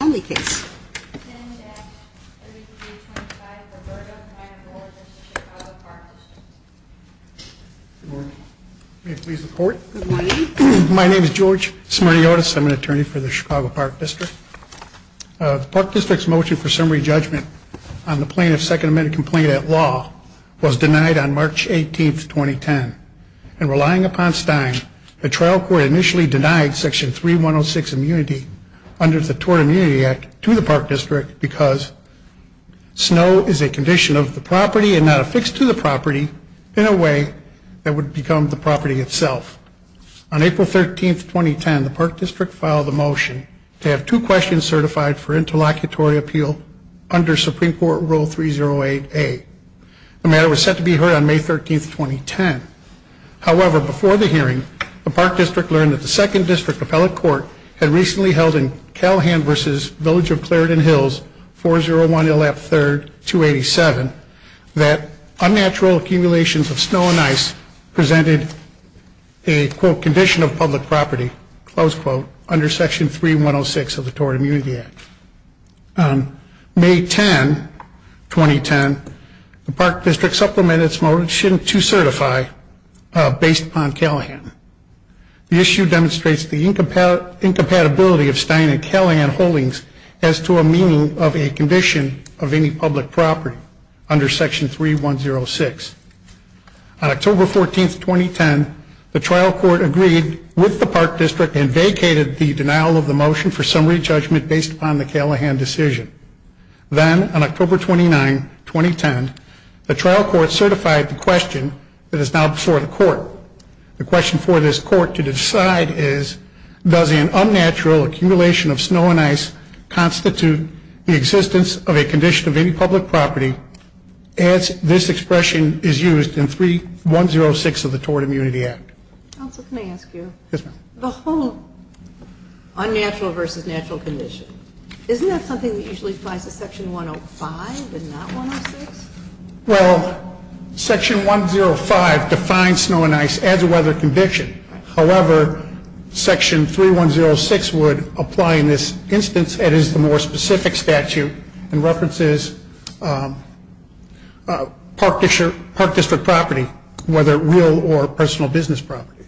My name is George Smirniotis. I'm an attorney for the Chicago Park District. The Park District's motion for summary judgment on the plaintiff's Second Amendment complaint at law was denied on March 18, 2010. And relying upon Stein, the trial court initially denied Section 3106 immunity under the Tort Immunity Act to the Park District because snow is a condition of the property and not affixed to the property in a way that would become the property itself. On April 13, 2010, the Park District filed a motion to have two questions certified for interlocutory appeal under Supreme Court Rule 308A. The matter was set to be heard on May 13, 2010. However, before the hearing, the Park District learned that the Second District Appellate Court had recently held in Callahan v. Village of Clarendon Hills, 401 Elap 3rd, 287, that unnatural accumulations of snow and ice presented a, quote, condition of public property, close quote, under Section 3106 of the Tort Immunity Act. On May 10, 2010, the Park District supplemented its motion to certify based on Callahan. The issue demonstrates the incompatibility of Stein and Callahan holdings as to a meaning of a condition of any public property under Section 3106. On October 14, 2010, the trial court agreed with the Park District and vacated the denial of the motion for summary judgment based upon the Callahan decision. Then on October 29, 2010, the trial court certified the question that is now before the court. The question for this court to decide is, does an unnatural accumulation of snow and ice constitute the existence of a condition of any public property as this expression is used in 3106 of the Tort Immunity Act? Counsel, can I ask you? Yes, ma'am. The whole unnatural versus natural condition, isn't that something that usually applies to Section 105 and not 106? Well, Section 105 defines snow and ice as a weather conviction. However, Section 3106 would apply in this instance that is the more specific statute and references Park District property, whether real or personal business property.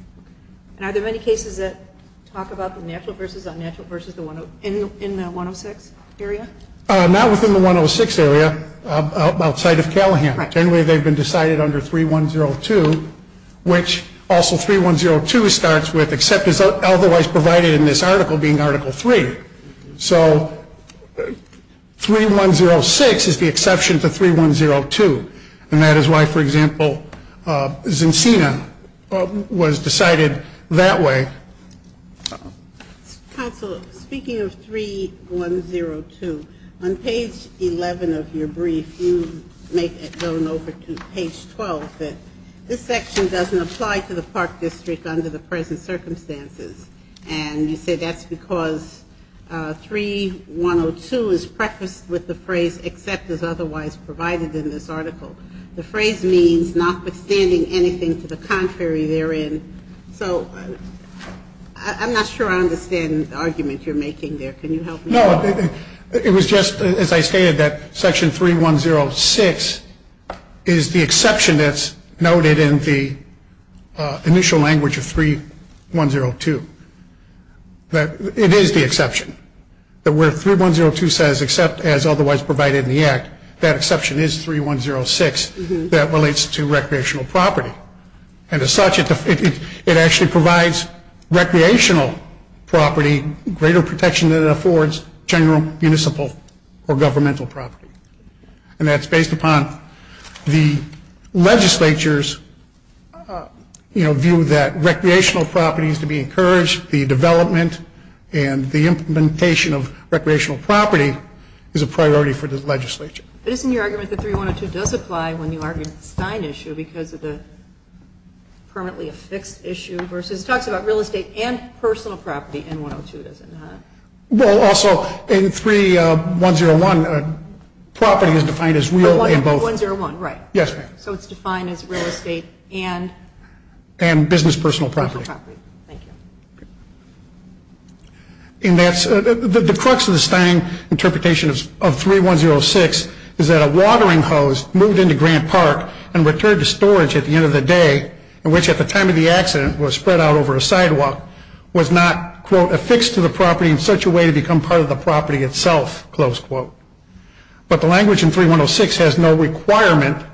And are there many cases that talk about the natural versus unnatural in the 106 area? Not within the 106 area, outside of Callahan. Generally, they've been decided under 3102, which also 3102 starts with except as otherwise provided in this article being Article 3. So 3106 is the exception to 3102. And that is why, for example, Zincina was decided that way. Counsel, speaking of 3102, on page 11 of your brief, you make it known over to page 12 that this section doesn't apply to the Park District under the present circumstances. And you say that's because 3102 is prefaced with the phrase except as contrary therein. So I'm not sure I understand the argument you're making there. Can you help me? No. It was just, as I stated, that Section 3106 is the exception that's noted in the initial language of 3102. It is the exception. That where 3102 says except as such, it actually provides recreational property greater protection than it affords general, municipal, or governmental property. And that's based upon the legislature's view that recreational property is to be encouraged, the development and the implementation of recreational property is a priority for the legislature. But isn't your argument that 3102 does apply when you have a permanently affixed issue, versus, it talks about real estate and personal property in 102, does it not? Well, also, in 3101, property is defined as real in both. Oh, in 101, right. Yes, ma'am. So it's defined as real estate and? And business personal property. Thank you. And that's, the crux of the Stein interpretation of 3106 is that a watering hose moved into Grant Park and returned to storage at the end of the day, which at the time of the accident was spread out over a sidewalk, was not, quote, affixed to the property in such a way to become part of the property itself, close quote. But the language in 3106 has no requirement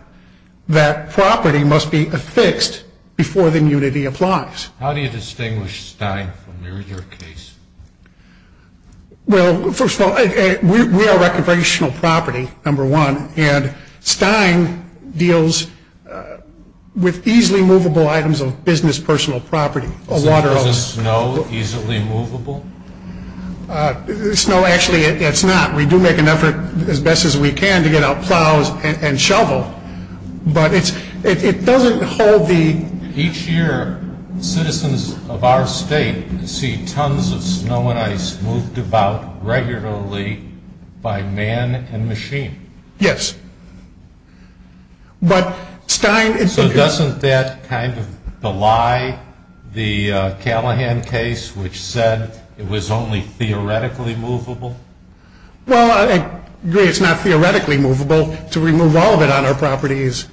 that property must be affixed before the immunity applies. How do you distinguish Stein from your case? Well, first of all, we are recreational property, number one, and Stein deals with easily movable items of business personal property, a watering hose. So is a snow easily movable? Snow, actually, it's not. We do make an effort as best as we can to get out plows and shovel, but it's, it doesn't hold the. Each year, citizens of our state see tons of snow and ice moved about regularly by man and machine. Yes. But Stein. So doesn't that kind of belie the Callahan case, which said it was only theoretically movable? Well, I agree it's not theoretically movable. To remove all of it on our property is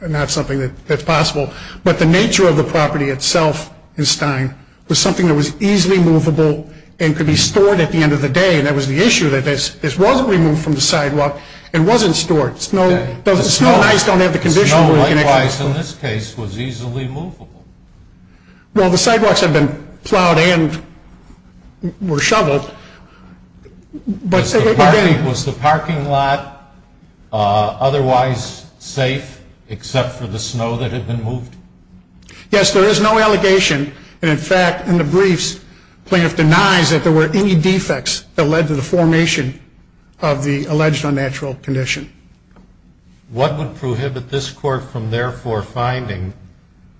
not something that's possible. But the nature of the property itself in Stein was something that was easily movable and could be stored at the end of the day. And that was the issue that this wasn't removed from the sidewalk. It wasn't stored. Snow and ice don't have the conditions. Snow, likewise, in this case, was easily movable. Well, the except for the snow that had been moved? Yes, there is no allegation. And in fact, in the briefs, plaintiff denies that there were any defects that led to the formation of the alleged unnatural condition. What would prohibit this court from therefore finding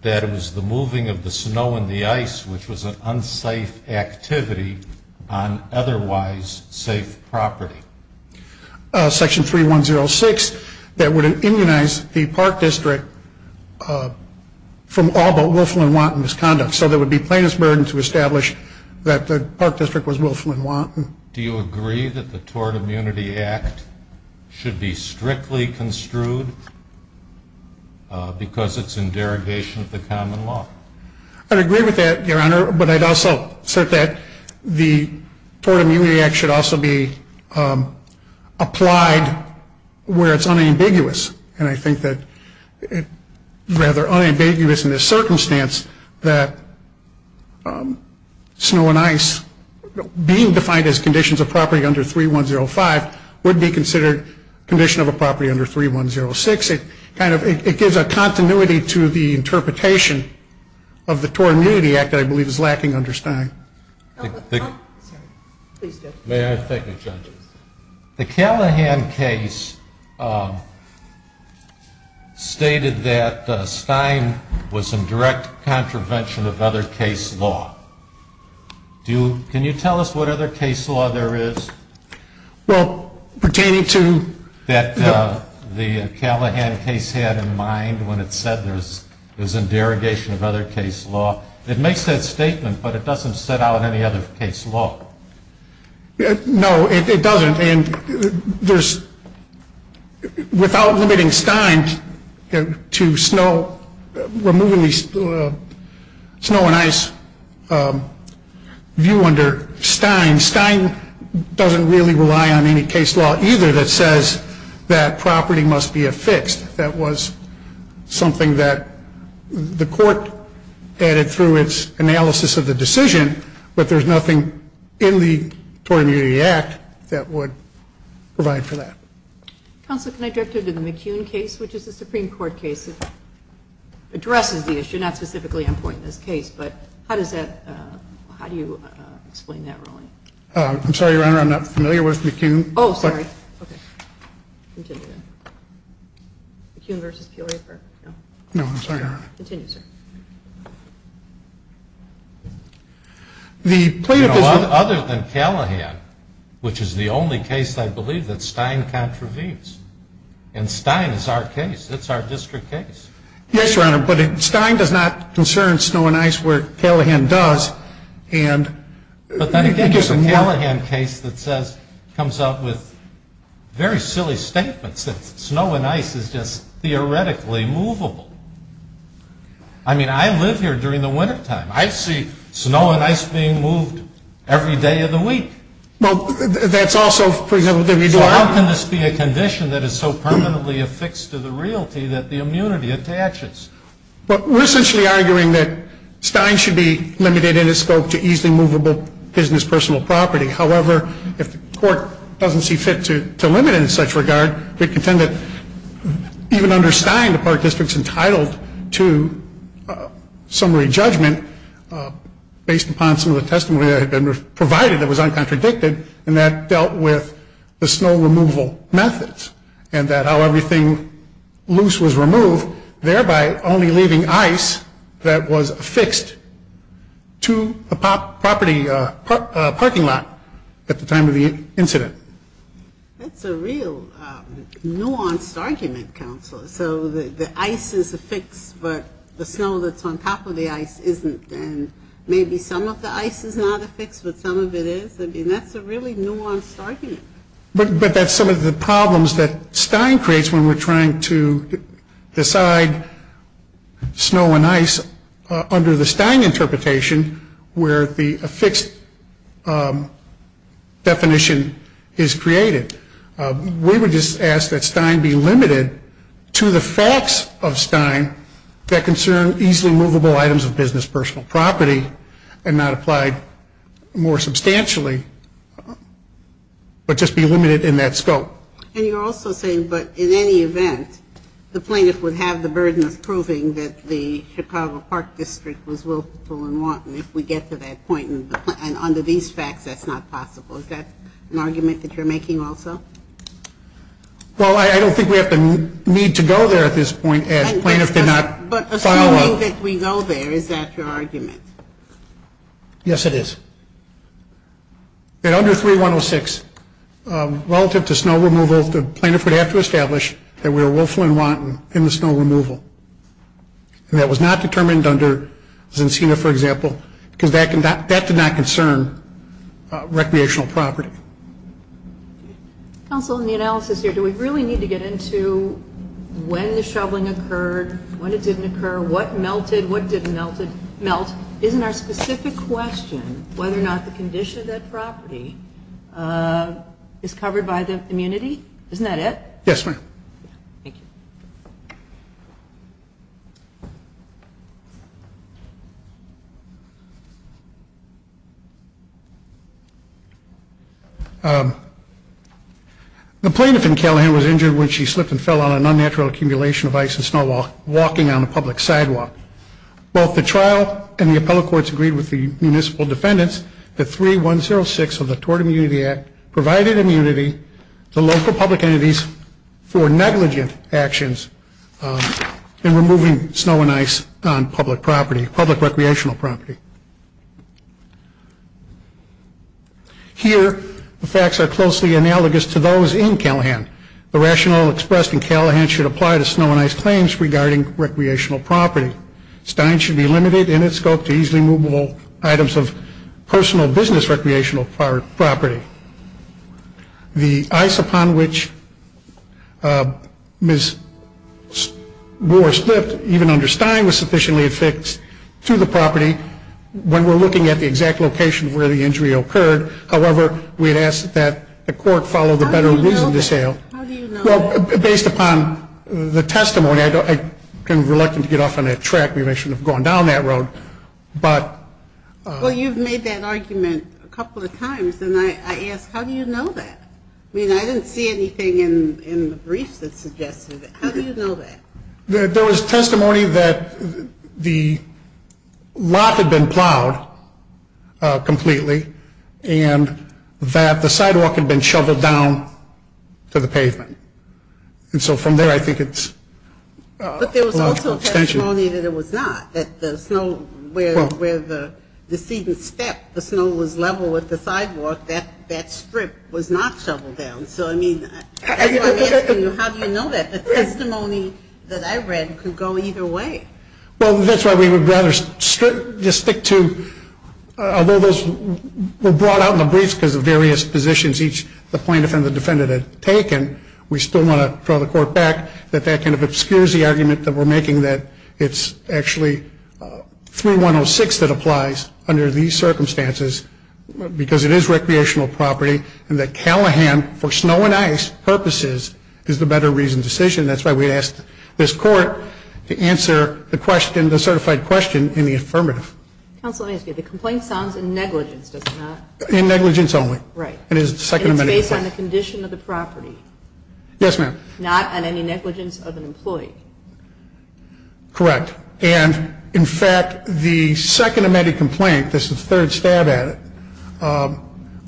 that it was the moving of the snow and the ice, which was an unsafe activity on otherwise safe property? Section 3106, that would immunize the Park District from all but Wilflyn-Wanton misconduct. So there would be plaintiff's burden to establish that the Park District was Wilflyn-Wanton. Do you agree that the Tort Immunity Act should be strictly construed because it's in derogation of the common law? I'd agree with that, Your Honor. But I'd also assert that the applied where it's unambiguous. And I think that rather unambiguous in this circumstance, that snow and ice being defined as conditions of property under 3105 would be considered condition of a property under 3106. It kind of it gives a continuity to the interpretation of the Tort Immunity Act that I believe is lacking under Stein. The Callahan case stated that Stein was in direct contravention of other case law. Can you tell us what other case law there is that is in direct contravention of other case law? It makes that statement, but it doesn't set out any other case law. No, it doesn't. And there's, without limiting Stein to snow, removing the snow and ice view under Stein, Stein doesn't really rely on any case law either that says that property must be affixed. That was something that the Court added through its analysis of the decision, but there's nothing in the Tort Immunity Act that would provide for that. Counsel, can I drift over to the McCune case, which is a Supreme Court case that addresses the issue, not specifically on point in this case, but how does that, how do you explain that ruling? I'm sorry, Your Honor, I'm not familiar with McCune. Oh, sorry. Okay. McCune v. Peoria, no? No, I'm sorry, Your Honor. Continue, sir. The plaintiff is... You know, other than Callahan, which is the only case I believe that Stein contravenes, and Stein is our case, it's our district case. Yes, Your Honor, but Stein does not concern snow and ice where Callahan does, and... But then again, there's a Callahan case that says, comes out with very silly statements that snow and ice is just theoretically movable. I mean, I live here during the wintertime. I see snow and ice being moved every day of the week. Well, that's also... So how can this be a condition that is so permanently affixed to the realty that the immunity attaches? Well, we're essentially arguing that Stein should be limited in its scope to easily movable business personal property. However, if the court doesn't see fit to limit it in such regard, we contend that even under Stein, the Park District's entitled to summary judgment based upon some of the testimony that had been provided that was uncontradicted, and that dealt with the snow removal methods, and that how everything loose was to a property parking lot at the time of the incident. That's a real nuanced argument, Counselor. So the ice is affixed, but the snow that's on top of the ice isn't, and maybe some of the ice is not affixed, but some of it is. I mean, that's a really nuanced argument. But that's some of the problems that Stein creates when we're trying to decide snow and ice under the Stein interpretation where the affixed definition is created. We would just ask that Stein be limited to the facts of Stein that concern easily movable items of business personal property and not applied more substantially, but just be limited in that scope. And you're also saying, but in any event, the plaintiff would have the burden of proving that the Chicago Park District was willful and wanton if we get to that point, and under these facts, that's not possible. Is that an argument that you're making also? Well, I don't think we have the need to go there at this point as plaintiff did not follow up. But assuming that we go there, is that your argument? Yes, it is. That under 3.106, relative to snow removal, the plaintiff would have to establish that we were willful and wanton in the snow removal. And that was not determined under Zencina, for example, because that did not concern recreational property. Counsel, in the analysis here, do we really need to get into when the shoveling occurred, when it didn't occur, what melted, what didn't melt? Isn't our specific question whether or not the condition of that property is covered by the immunity? Isn't that it? Yes, ma'am. The plaintiff in Callahan was injured when she slipped and fell on an unnatural accumulation of ice and snow while walking on a public sidewalk. Both the trial and the appellate courts agreed with the municipal defendants that 3.106 of the Tort Immunity Act provided immunity to local public entities for negligent actions in removing snow and ice on public property, public recreational property. Here, the facts are closely analogous to those in Callahan. The rationale expressed in Callahan should apply to snow and ice claims regarding recreational property. Stein should be limited in its scope to easily movable items of personal business recreational property. The ice upon which Ms. Moore slipped, even under Stein, was sufficiently affixed to the property when we're looking at the exact location where the injury occurred. However, we had asked that the court follow the better reason to say that Ms. Moore slipped and fell on an unnatural accumulation of ice and snow while walking on a public sidewalk. Based upon the testimony, I'm reluctant to get off on that track. Maybe I shouldn't have gone down that road, but... Well, you've made that argument a couple of times, and I ask, how do you know that? I mean, I didn't see anything in the briefs that suggested it. How do you know that? There was testimony that the lot had been plowed completely, and that the sidewalk had been shoveled down to the pavement. And so from there, I think it's... But there was also testimony that it was not, that the snow, where the decedent stepped, the snow was level with the sidewalk. That strip was not level with the sidewalk. So how do you know that? The testimony that I read could go either way. Well, that's why we would rather just stick to, although those were brought out in the briefs because of various positions each plaintiff and the defendant had taken, we still want to throw the court back that that kind of obscures the argument that we're making that it's actually 3106 that applies under these circumstances, because it is recreational property, and that Callahan, for snow and ice purposes, is the better reasoned decision. That's why we asked this court to answer the question, the certified question in the affirmative. Counsel, let me ask you, the complaint sounds in negligence, does it not? In negligence only. Right. And it's based on the condition of the property. Yes, ma'am. Not on any negligence of an employee. Correct. And, in fact, the second amended complaint, this is the third stab at it,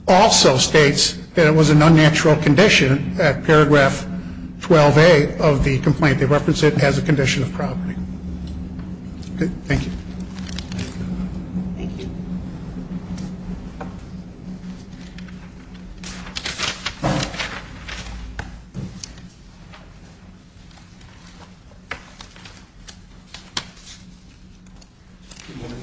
also states that it was an unnatural condition at paragraph 12A of the complaint. They reference it as a condition of property. Thank you. Thank you. Good morning.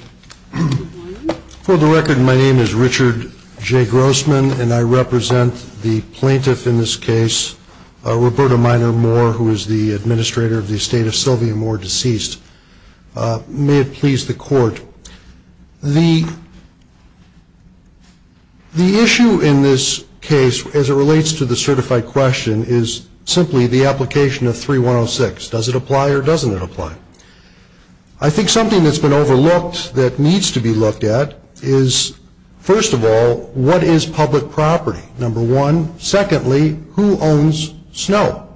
Good morning. For the record, my name is Richard J. Grossman, and I represent the plaintiff in this case, Roberta Minor Moore, who is the administrator of the estate of Sylvia Moore, deceased. May it please the court, the issue in this case, as it relates to the certified question, is simply the application of 3106. Does it apply or doesn't it apply? I think something that's been overlooked that needs to be looked at is, first of all, what is public property, number one? Secondly, who owns snow?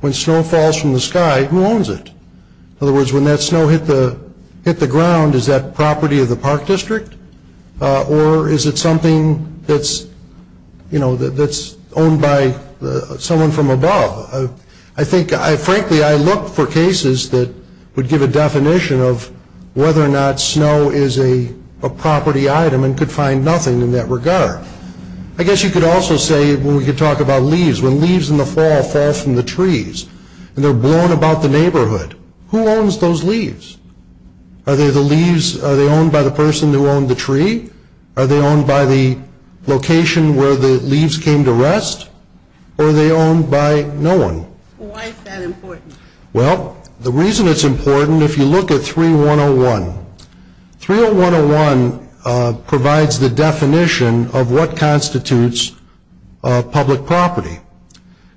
When snow falls from the sky, who owns it? In other words, when that snow hit the ground, is that property of the park district? Or is it something that's, you know, that's owned by someone from above? I think, frankly, I look for cases that would give a definition of whether or not snow is a property item and could find nothing in that regard. I guess you could also say, well, we could talk about leaves. When leaves in the fall fall from the trees and they're blown about the neighborhood, who owns those leaves? Are they the leaves, are they owned by the person who owned the tree? Are they owned by the location where the leaves came to rest? Or are they owned by no one? Why is that important? Well, the reason it's important, if you look at 3101, 30101 provides the definition of what constitutes public property.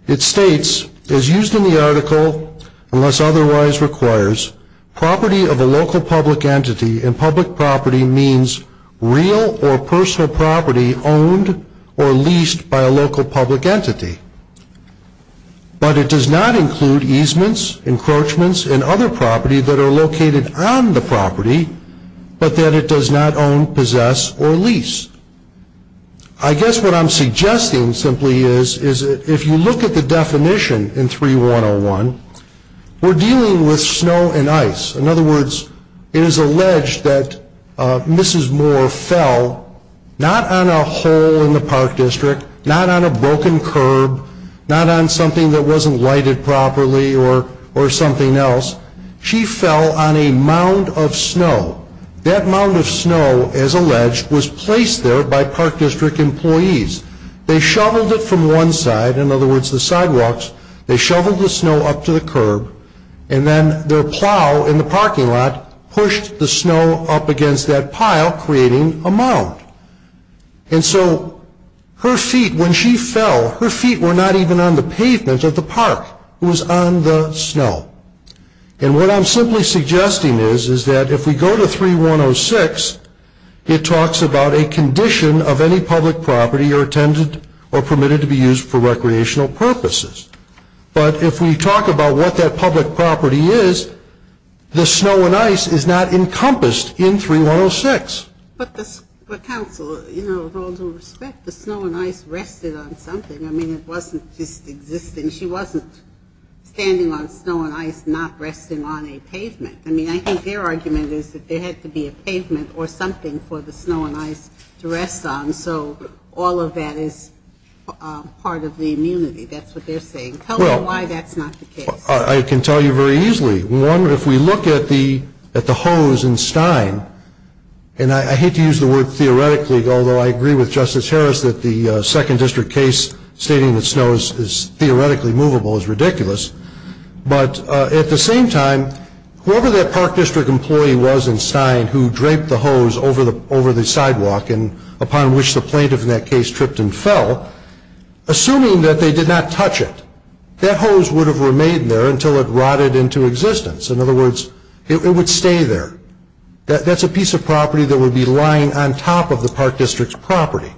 It states, as used in the article, unless otherwise requires, property of a local public entity and public property means real or personal property owned or leased by a local public entity. But it does not include easements, encroachments, and other property that are located on the property, but that it does not own, possess, or lease. I guess what I'm suggesting simply is, if you look at the definition in 3101, we're dealing with snow and ice. In other words, it is alleged that Mrs. Moore fell not on a hole in the park district, not on a broken curb, not on something that wasn't lighted properly or something else. She fell on a mound of snow. That mound of snow, as alleged, was placed there by park district employees. They shoveled it from one side, in other words, the sidewalks. They shoveled the snow up to the curb, and then their plow in the parking lot pushed the snow up against that pile, creating a mound. And so her feet, when she fell, her feet were not even on the pavement of the park. It was on the snow. And what I'm simply suggesting is, is that if we go to 3106, it talks about a condition of any public property or permitted to be used for recreational purposes. But if we talk about what that public property is, the snow and ice is not encompassed in 3106. But, counsel, you know, with all due respect, the snow and ice rested on something. I mean, it wasn't just existing. She wasn't standing on snow and ice not resting on a pavement. I mean, I think their argument is that there had to be a pavement or something for the snow and ice to rest on. So all of that is part of the immunity. That's what they're saying. Tell me why that's not the case. I can tell you very easily. One, if we look at the hose in Stein, and I hate to use the word theoretically, although I agree with Justice Harris that the Second District case stating that snow is theoretically movable is ridiculous. But at the same time, whoever that Park District employee was in Stein who draped the hose over the sidewalk and upon which the plaintiff in that case tripped and fell, assuming that they did not touch it, that hose would have remained there until it rotted into existence. In other words, it would stay there. That's a piece of property that would be lying on top of the Park District's property.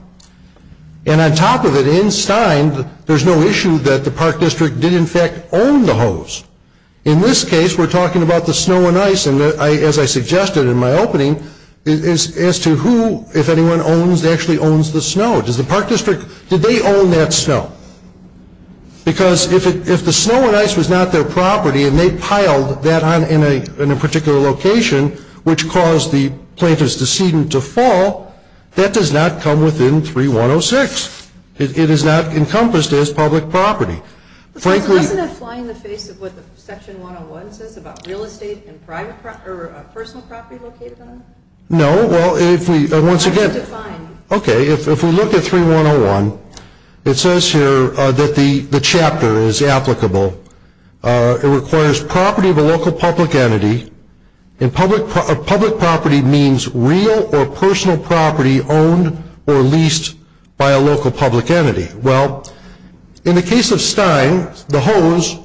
And on top of it, in Stein, there's no issue that the Park District did, in fact, own the hose. In this case, we're talking about the snow and ice. And as I suggested in my opening, as to who, if anyone owns, actually owns the snow. Does the Park District, do they own that snow? Because if the snow and ice was not their property and they piled that in a particular location, which caused the plaintiff's decedent to fall, that does not come within 3106. It is not encompassed as public property. Doesn't that fly in the face of what Section 101 says about real estate and personal property located on it? No. Well, once again, if we look at 3101, it says here that the chapter is applicable. It requires property of a local public entity. And public property means real or personal property owned or leased by a local public entity. Well, in the case of Stein, the hose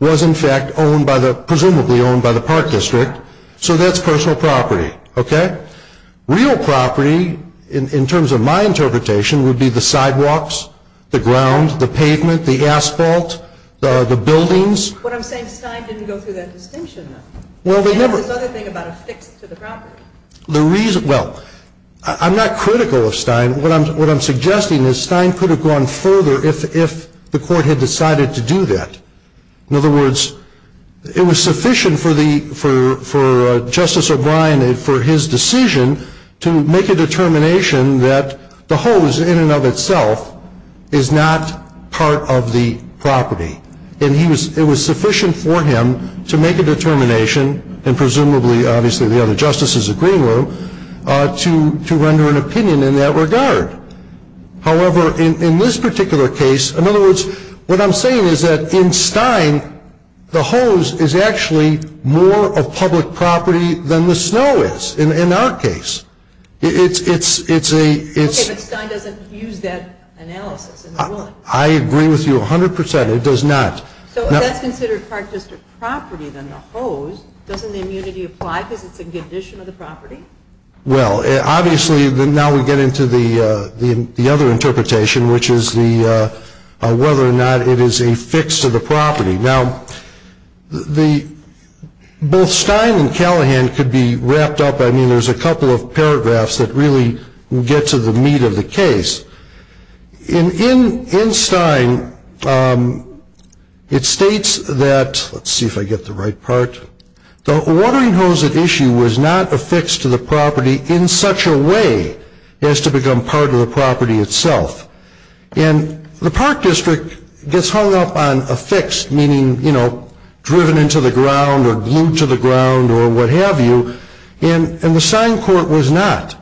was, in fact, owned by the, presumably owned by the Park District. So that's personal property. Okay? Real property, in terms of my interpretation, would be the sidewalks, the ground, the pavement, the asphalt, the buildings. What I'm saying is Stein didn't go through that distinction, though. They have this other thing about affixed to the property. The reason, well, I'm not critical of Stein. What I'm suggesting is Stein could have gone further if the court had decided to do that. In other words, it was sufficient for Justice O'Brien, for his decision, to make a determination that the hose, in and of itself, is not part of the property. And it was sufficient for him to make a determination, and presumably, obviously, the other justices agreeing with him, to render an opinion in that regard. However, in this particular case, in other words, what I'm saying is that in Stein, the hose is actually more a public property than the snow is, in our case. It's a... Okay, but Stein doesn't use that analysis. I agree with you 100%. It does not. So if that's considered Park District property, then the hose, doesn't the immunity apply because it's a condition of the property? Well, obviously, now we get into the other interpretation, which is whether or not it is affixed to the property. Now, both Stein and Callahan could be wrapped up. I mean, there's a couple of paragraphs that really get to the meat of the case. In Stein, it states that, let's see if I get the right part, the watering hose at issue was not affixed to the property in such a way as to become part of the property itself. And the Park District gets hung up on affixed, meaning, you know, driven into the ground or glued to the ground or what have you, and the Stein court was not.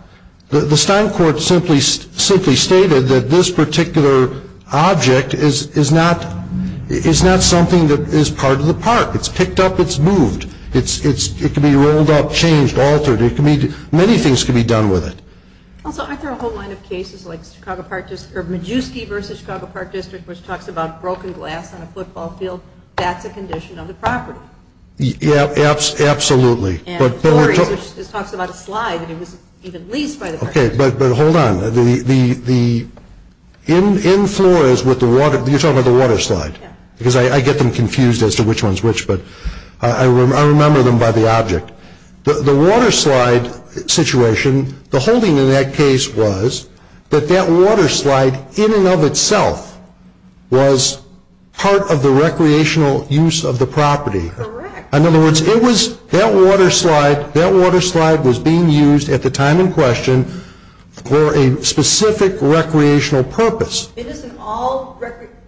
The Stein court simply stated that this particular object is not something that is part of the park. It's picked up. It's moved. It can be rolled up, changed, altered. Many things can be done with it. Also, aren't there a whole line of cases like Majewski v. Chicago Park District, which talks about broken glass on a football field? That's a condition of the property. Yeah, absolutely. And Flores, which talks about a slide, and it was even leased by the park. Okay, but hold on. In Flores with the water, you're talking about the water slide, because I get them confused as to which one's which, but I remember them by the object. The water slide situation, the holding in that case was that that water slide in and of itself was part of the recreational use of the property. Correct. In other words, that water slide was being used at the time in question for a specific recreational purpose. Isn't all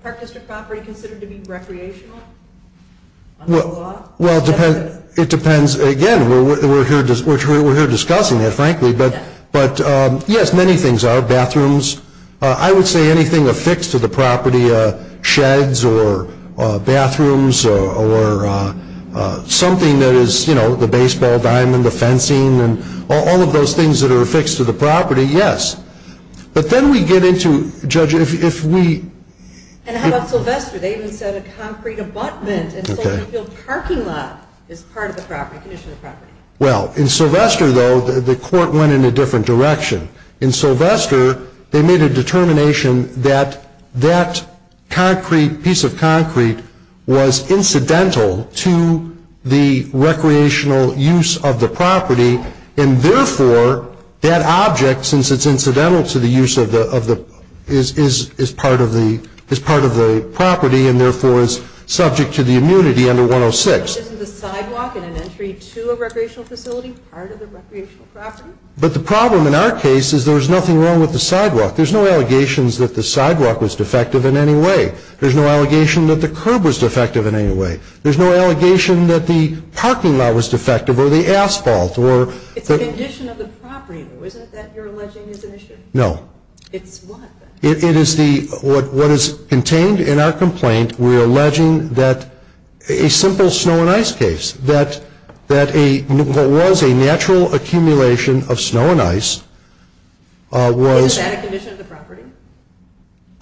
park district property considered to be recreational? Well, it depends. Again, we're here discussing it, frankly, but yes, many things are. I would say anything affixed to the property, sheds or bathrooms or something that is, you know, the baseball diamond, the fencing and all of those things that are affixed to the property, yes. But then we get into, Judge, if we... And how about Sylvester? They even said a concrete abutment and a parking lot is part of the condition of the property. Well, in Sylvester, though, the court went in a different direction. In Sylvester, they made a determination that that concrete, piece of concrete, was incidental to the recreational use of the property, and therefore that object, since it's incidental to the use of the... is part of the property and therefore is subject to the immunity under 106. Isn't the sidewalk and an entry to a recreational facility part of the recreational property? But the problem in our case is there was nothing wrong with the sidewalk. There's no allegations that the sidewalk was defective in any way. There's no allegation that the curb was defective in any way. There's no allegation that the parking lot was defective or the asphalt or... It's the condition of the property, though, isn't it, that you're alleging is an issue? No. It's what? It is what is contained in our complaint. We're alleging that a simple snow and ice case, that what was a natural accumulation of snow and ice was... Isn't that a condition of the property?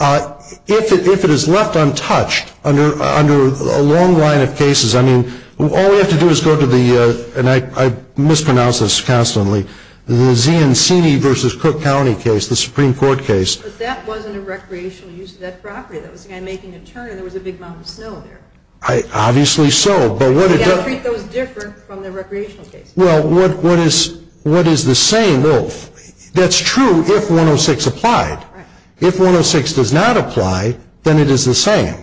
If it is left untouched under a long line of cases, I mean, all we have to do is go to the... and I mispronounce this constantly... the Ziancini v. Cook County case, the Supreme Court case. But that wasn't a recreational use of that property. That was a guy making a turn and there was a big mound of snow there. Obviously so, but what... You've got to treat those different from the recreational cases. Well, what is the same? That's true if 106 applied. If 106 does not apply, then it is the same.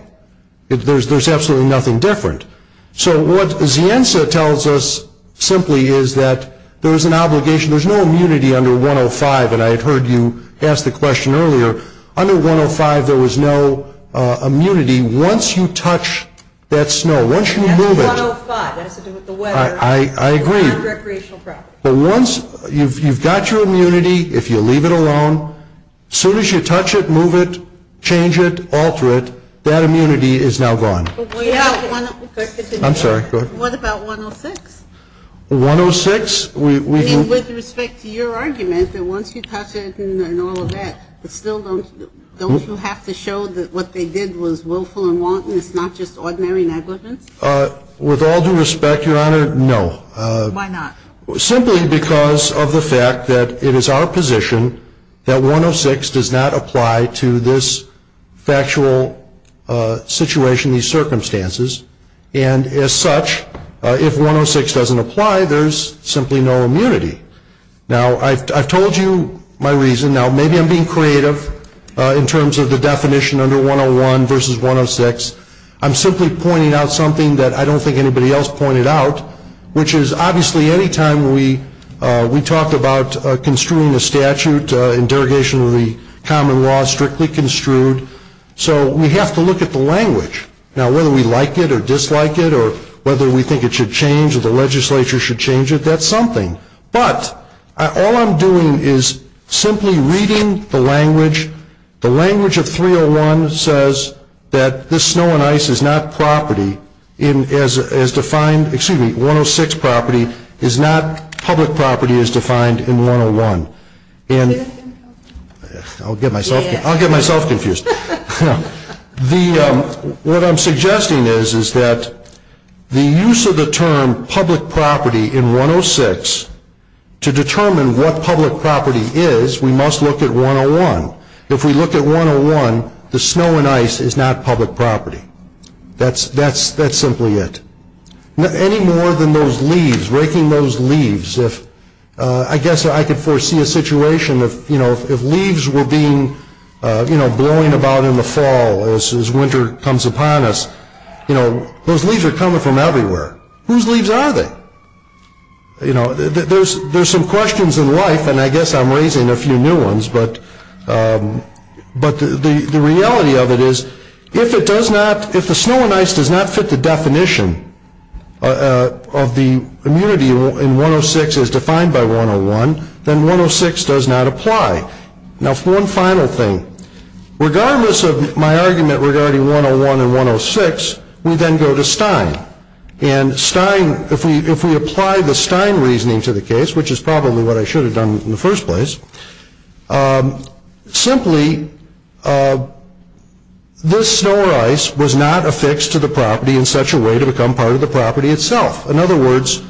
There's absolutely nothing different. So what Zienza tells us simply is that there is an obligation. There's no immunity under 105, and I had heard you ask the question earlier. Under 105 there was no immunity. Once you touch that snow, once you move it... That's 105. That has to do with the weather. I agree. It's not a recreational property. But once you've got your immunity, if you leave it alone, as soon as you touch it, move it, change it, alter it, that immunity is now gone. But we have... I'm sorry, go ahead. What about 106? 106, we... Don't you have to show that what they did was willful and wanton? It's not just ordinary negligence? With all due respect, Your Honor, no. Why not? Simply because of the fact that it is our position that 106 does not apply to this factual situation, these circumstances, and as such, if 106 doesn't apply, there's simply no immunity. Now, I've told you my reason. Now, maybe I'm being creative in terms of the definition under 101 versus 106. I'm simply pointing out something that I don't think anybody else pointed out, which is obviously any time we talk about construing a statute in derogation of the common law, strictly construed, so we have to look at the language. Now, whether we like it or dislike it or whether we think it should change or the legislature should change it, that's something. But all I'm doing is simply reading the language. The language of 301 says that this snow and ice is not property as defined, excuse me, 106 property is not public property as defined in 101. I'll get myself confused. What I'm suggesting is that the use of the term public property in 106 to determine what public property is, we must look at 101. If we look at 101, the snow and ice is not public property. That's simply it. Any more than those leaves, raking those leaves, I guess I could foresee a situation of, you know, if leaves were being, you know, blowing about in the fall as winter comes upon us, you know, those leaves are coming from everywhere. Whose leaves are they? You know, there's some questions in life, and I guess I'm raising a few new ones, but the reality of it is if it does not, if the snow and ice does not fit the definition of the immunity in 106 as defined by 101, then 106 does not apply. Now, one final thing. Regardless of my argument regarding 101 and 106, we then go to Stein. And Stein, if we apply the Stein reasoning to the case, which is probably what I should have done in the first place, simply this snow or ice was not affixed to the property in such a way to become part of the property itself. In other words,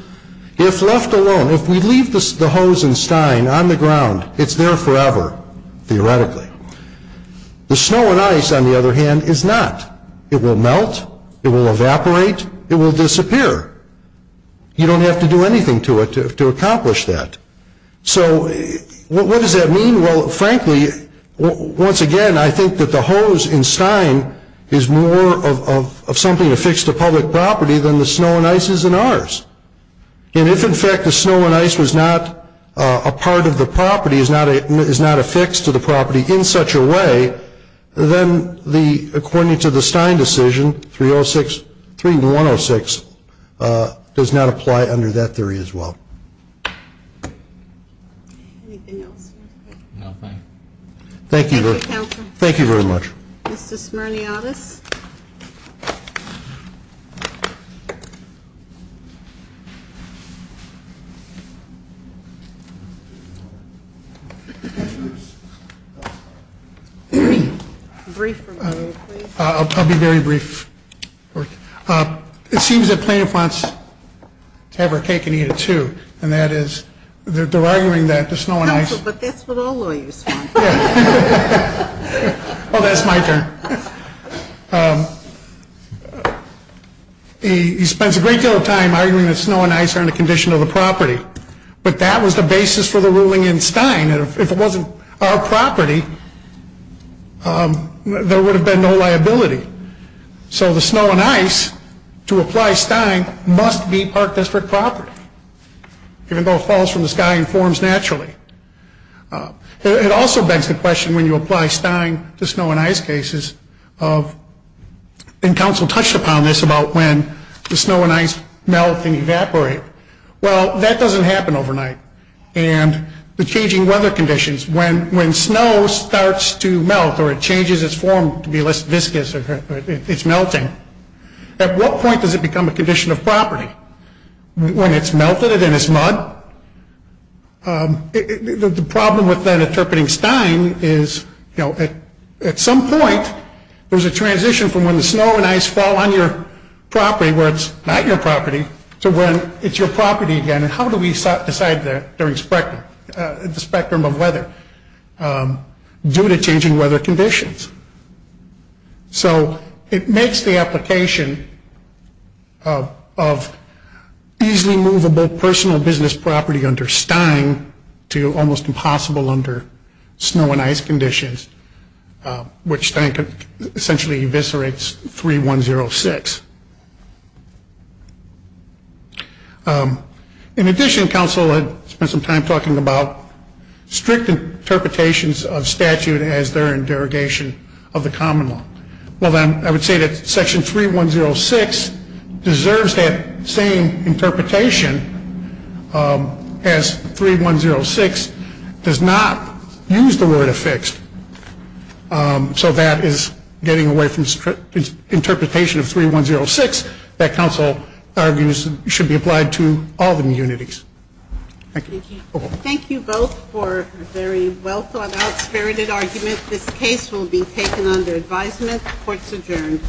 if left alone, if we leave the hose and Stein on the ground, it's there forever, theoretically. The snow and ice, on the other hand, is not. It will melt. It will evaporate. It will disappear. You don't have to do anything to it to accomplish that. So what does that mean? Well, frankly, once again, I think that the hose in Stein is more of something affixed to public property than the snow and ice is in ours. And if, in fact, the snow and ice was not a part of the property, is not affixed to the property in such a way, then according to the Stein decision, 3106 does not apply under that theory as well. Anything else? Nothing. Thank you. Thank you very much. Mr. Smirniadis. Brief from you, please. I'll be very brief. It seems that plaintiff wants to have her cake and eat it, too, and that is they're arguing that the snow and ice. Counsel, but that's what all lawyers want. Oh, that's my turn. He spends a great deal of time arguing that snow and ice are in the condition of the property. But that was the basis for the ruling in Stein. If it wasn't our property, there would have been no liability. So the snow and ice, to apply Stein, must be Park District property, even though it falls from the sky and forms naturally. It also begs the question, when you apply Stein to snow and ice cases, and counsel touched upon this, about when the snow and ice melt and evaporate. Well, that doesn't happen overnight. And the changing weather conditions, when snow starts to melt or it changes its form to be less viscous, it's melting. At what point does it become a condition of property? When it's melted and it's mud? The problem with then interpreting Stein is, at some point, there's a transition from when the snow and ice fall on your property, where it's not your property, to when it's your property again. And how do we decide that during the spectrum of weather due to changing weather conditions? So it makes the application of easily movable personal business property under Stein to almost impossible under snow and ice conditions, which Stein essentially eviscerates 3106. In addition, counsel had spent some time talking about strict interpretations of statute as they're in derogation of the common law. Well, then I would say that section 3106 deserves that same interpretation as 3106 does not use the word affixed. So that is getting away from interpretation of 3106 that counsel argues should be applied to all the unities. Thank you. Thank you both for a very well thought out, spirited argument. This case will be taken under advisement. Court's adjourned.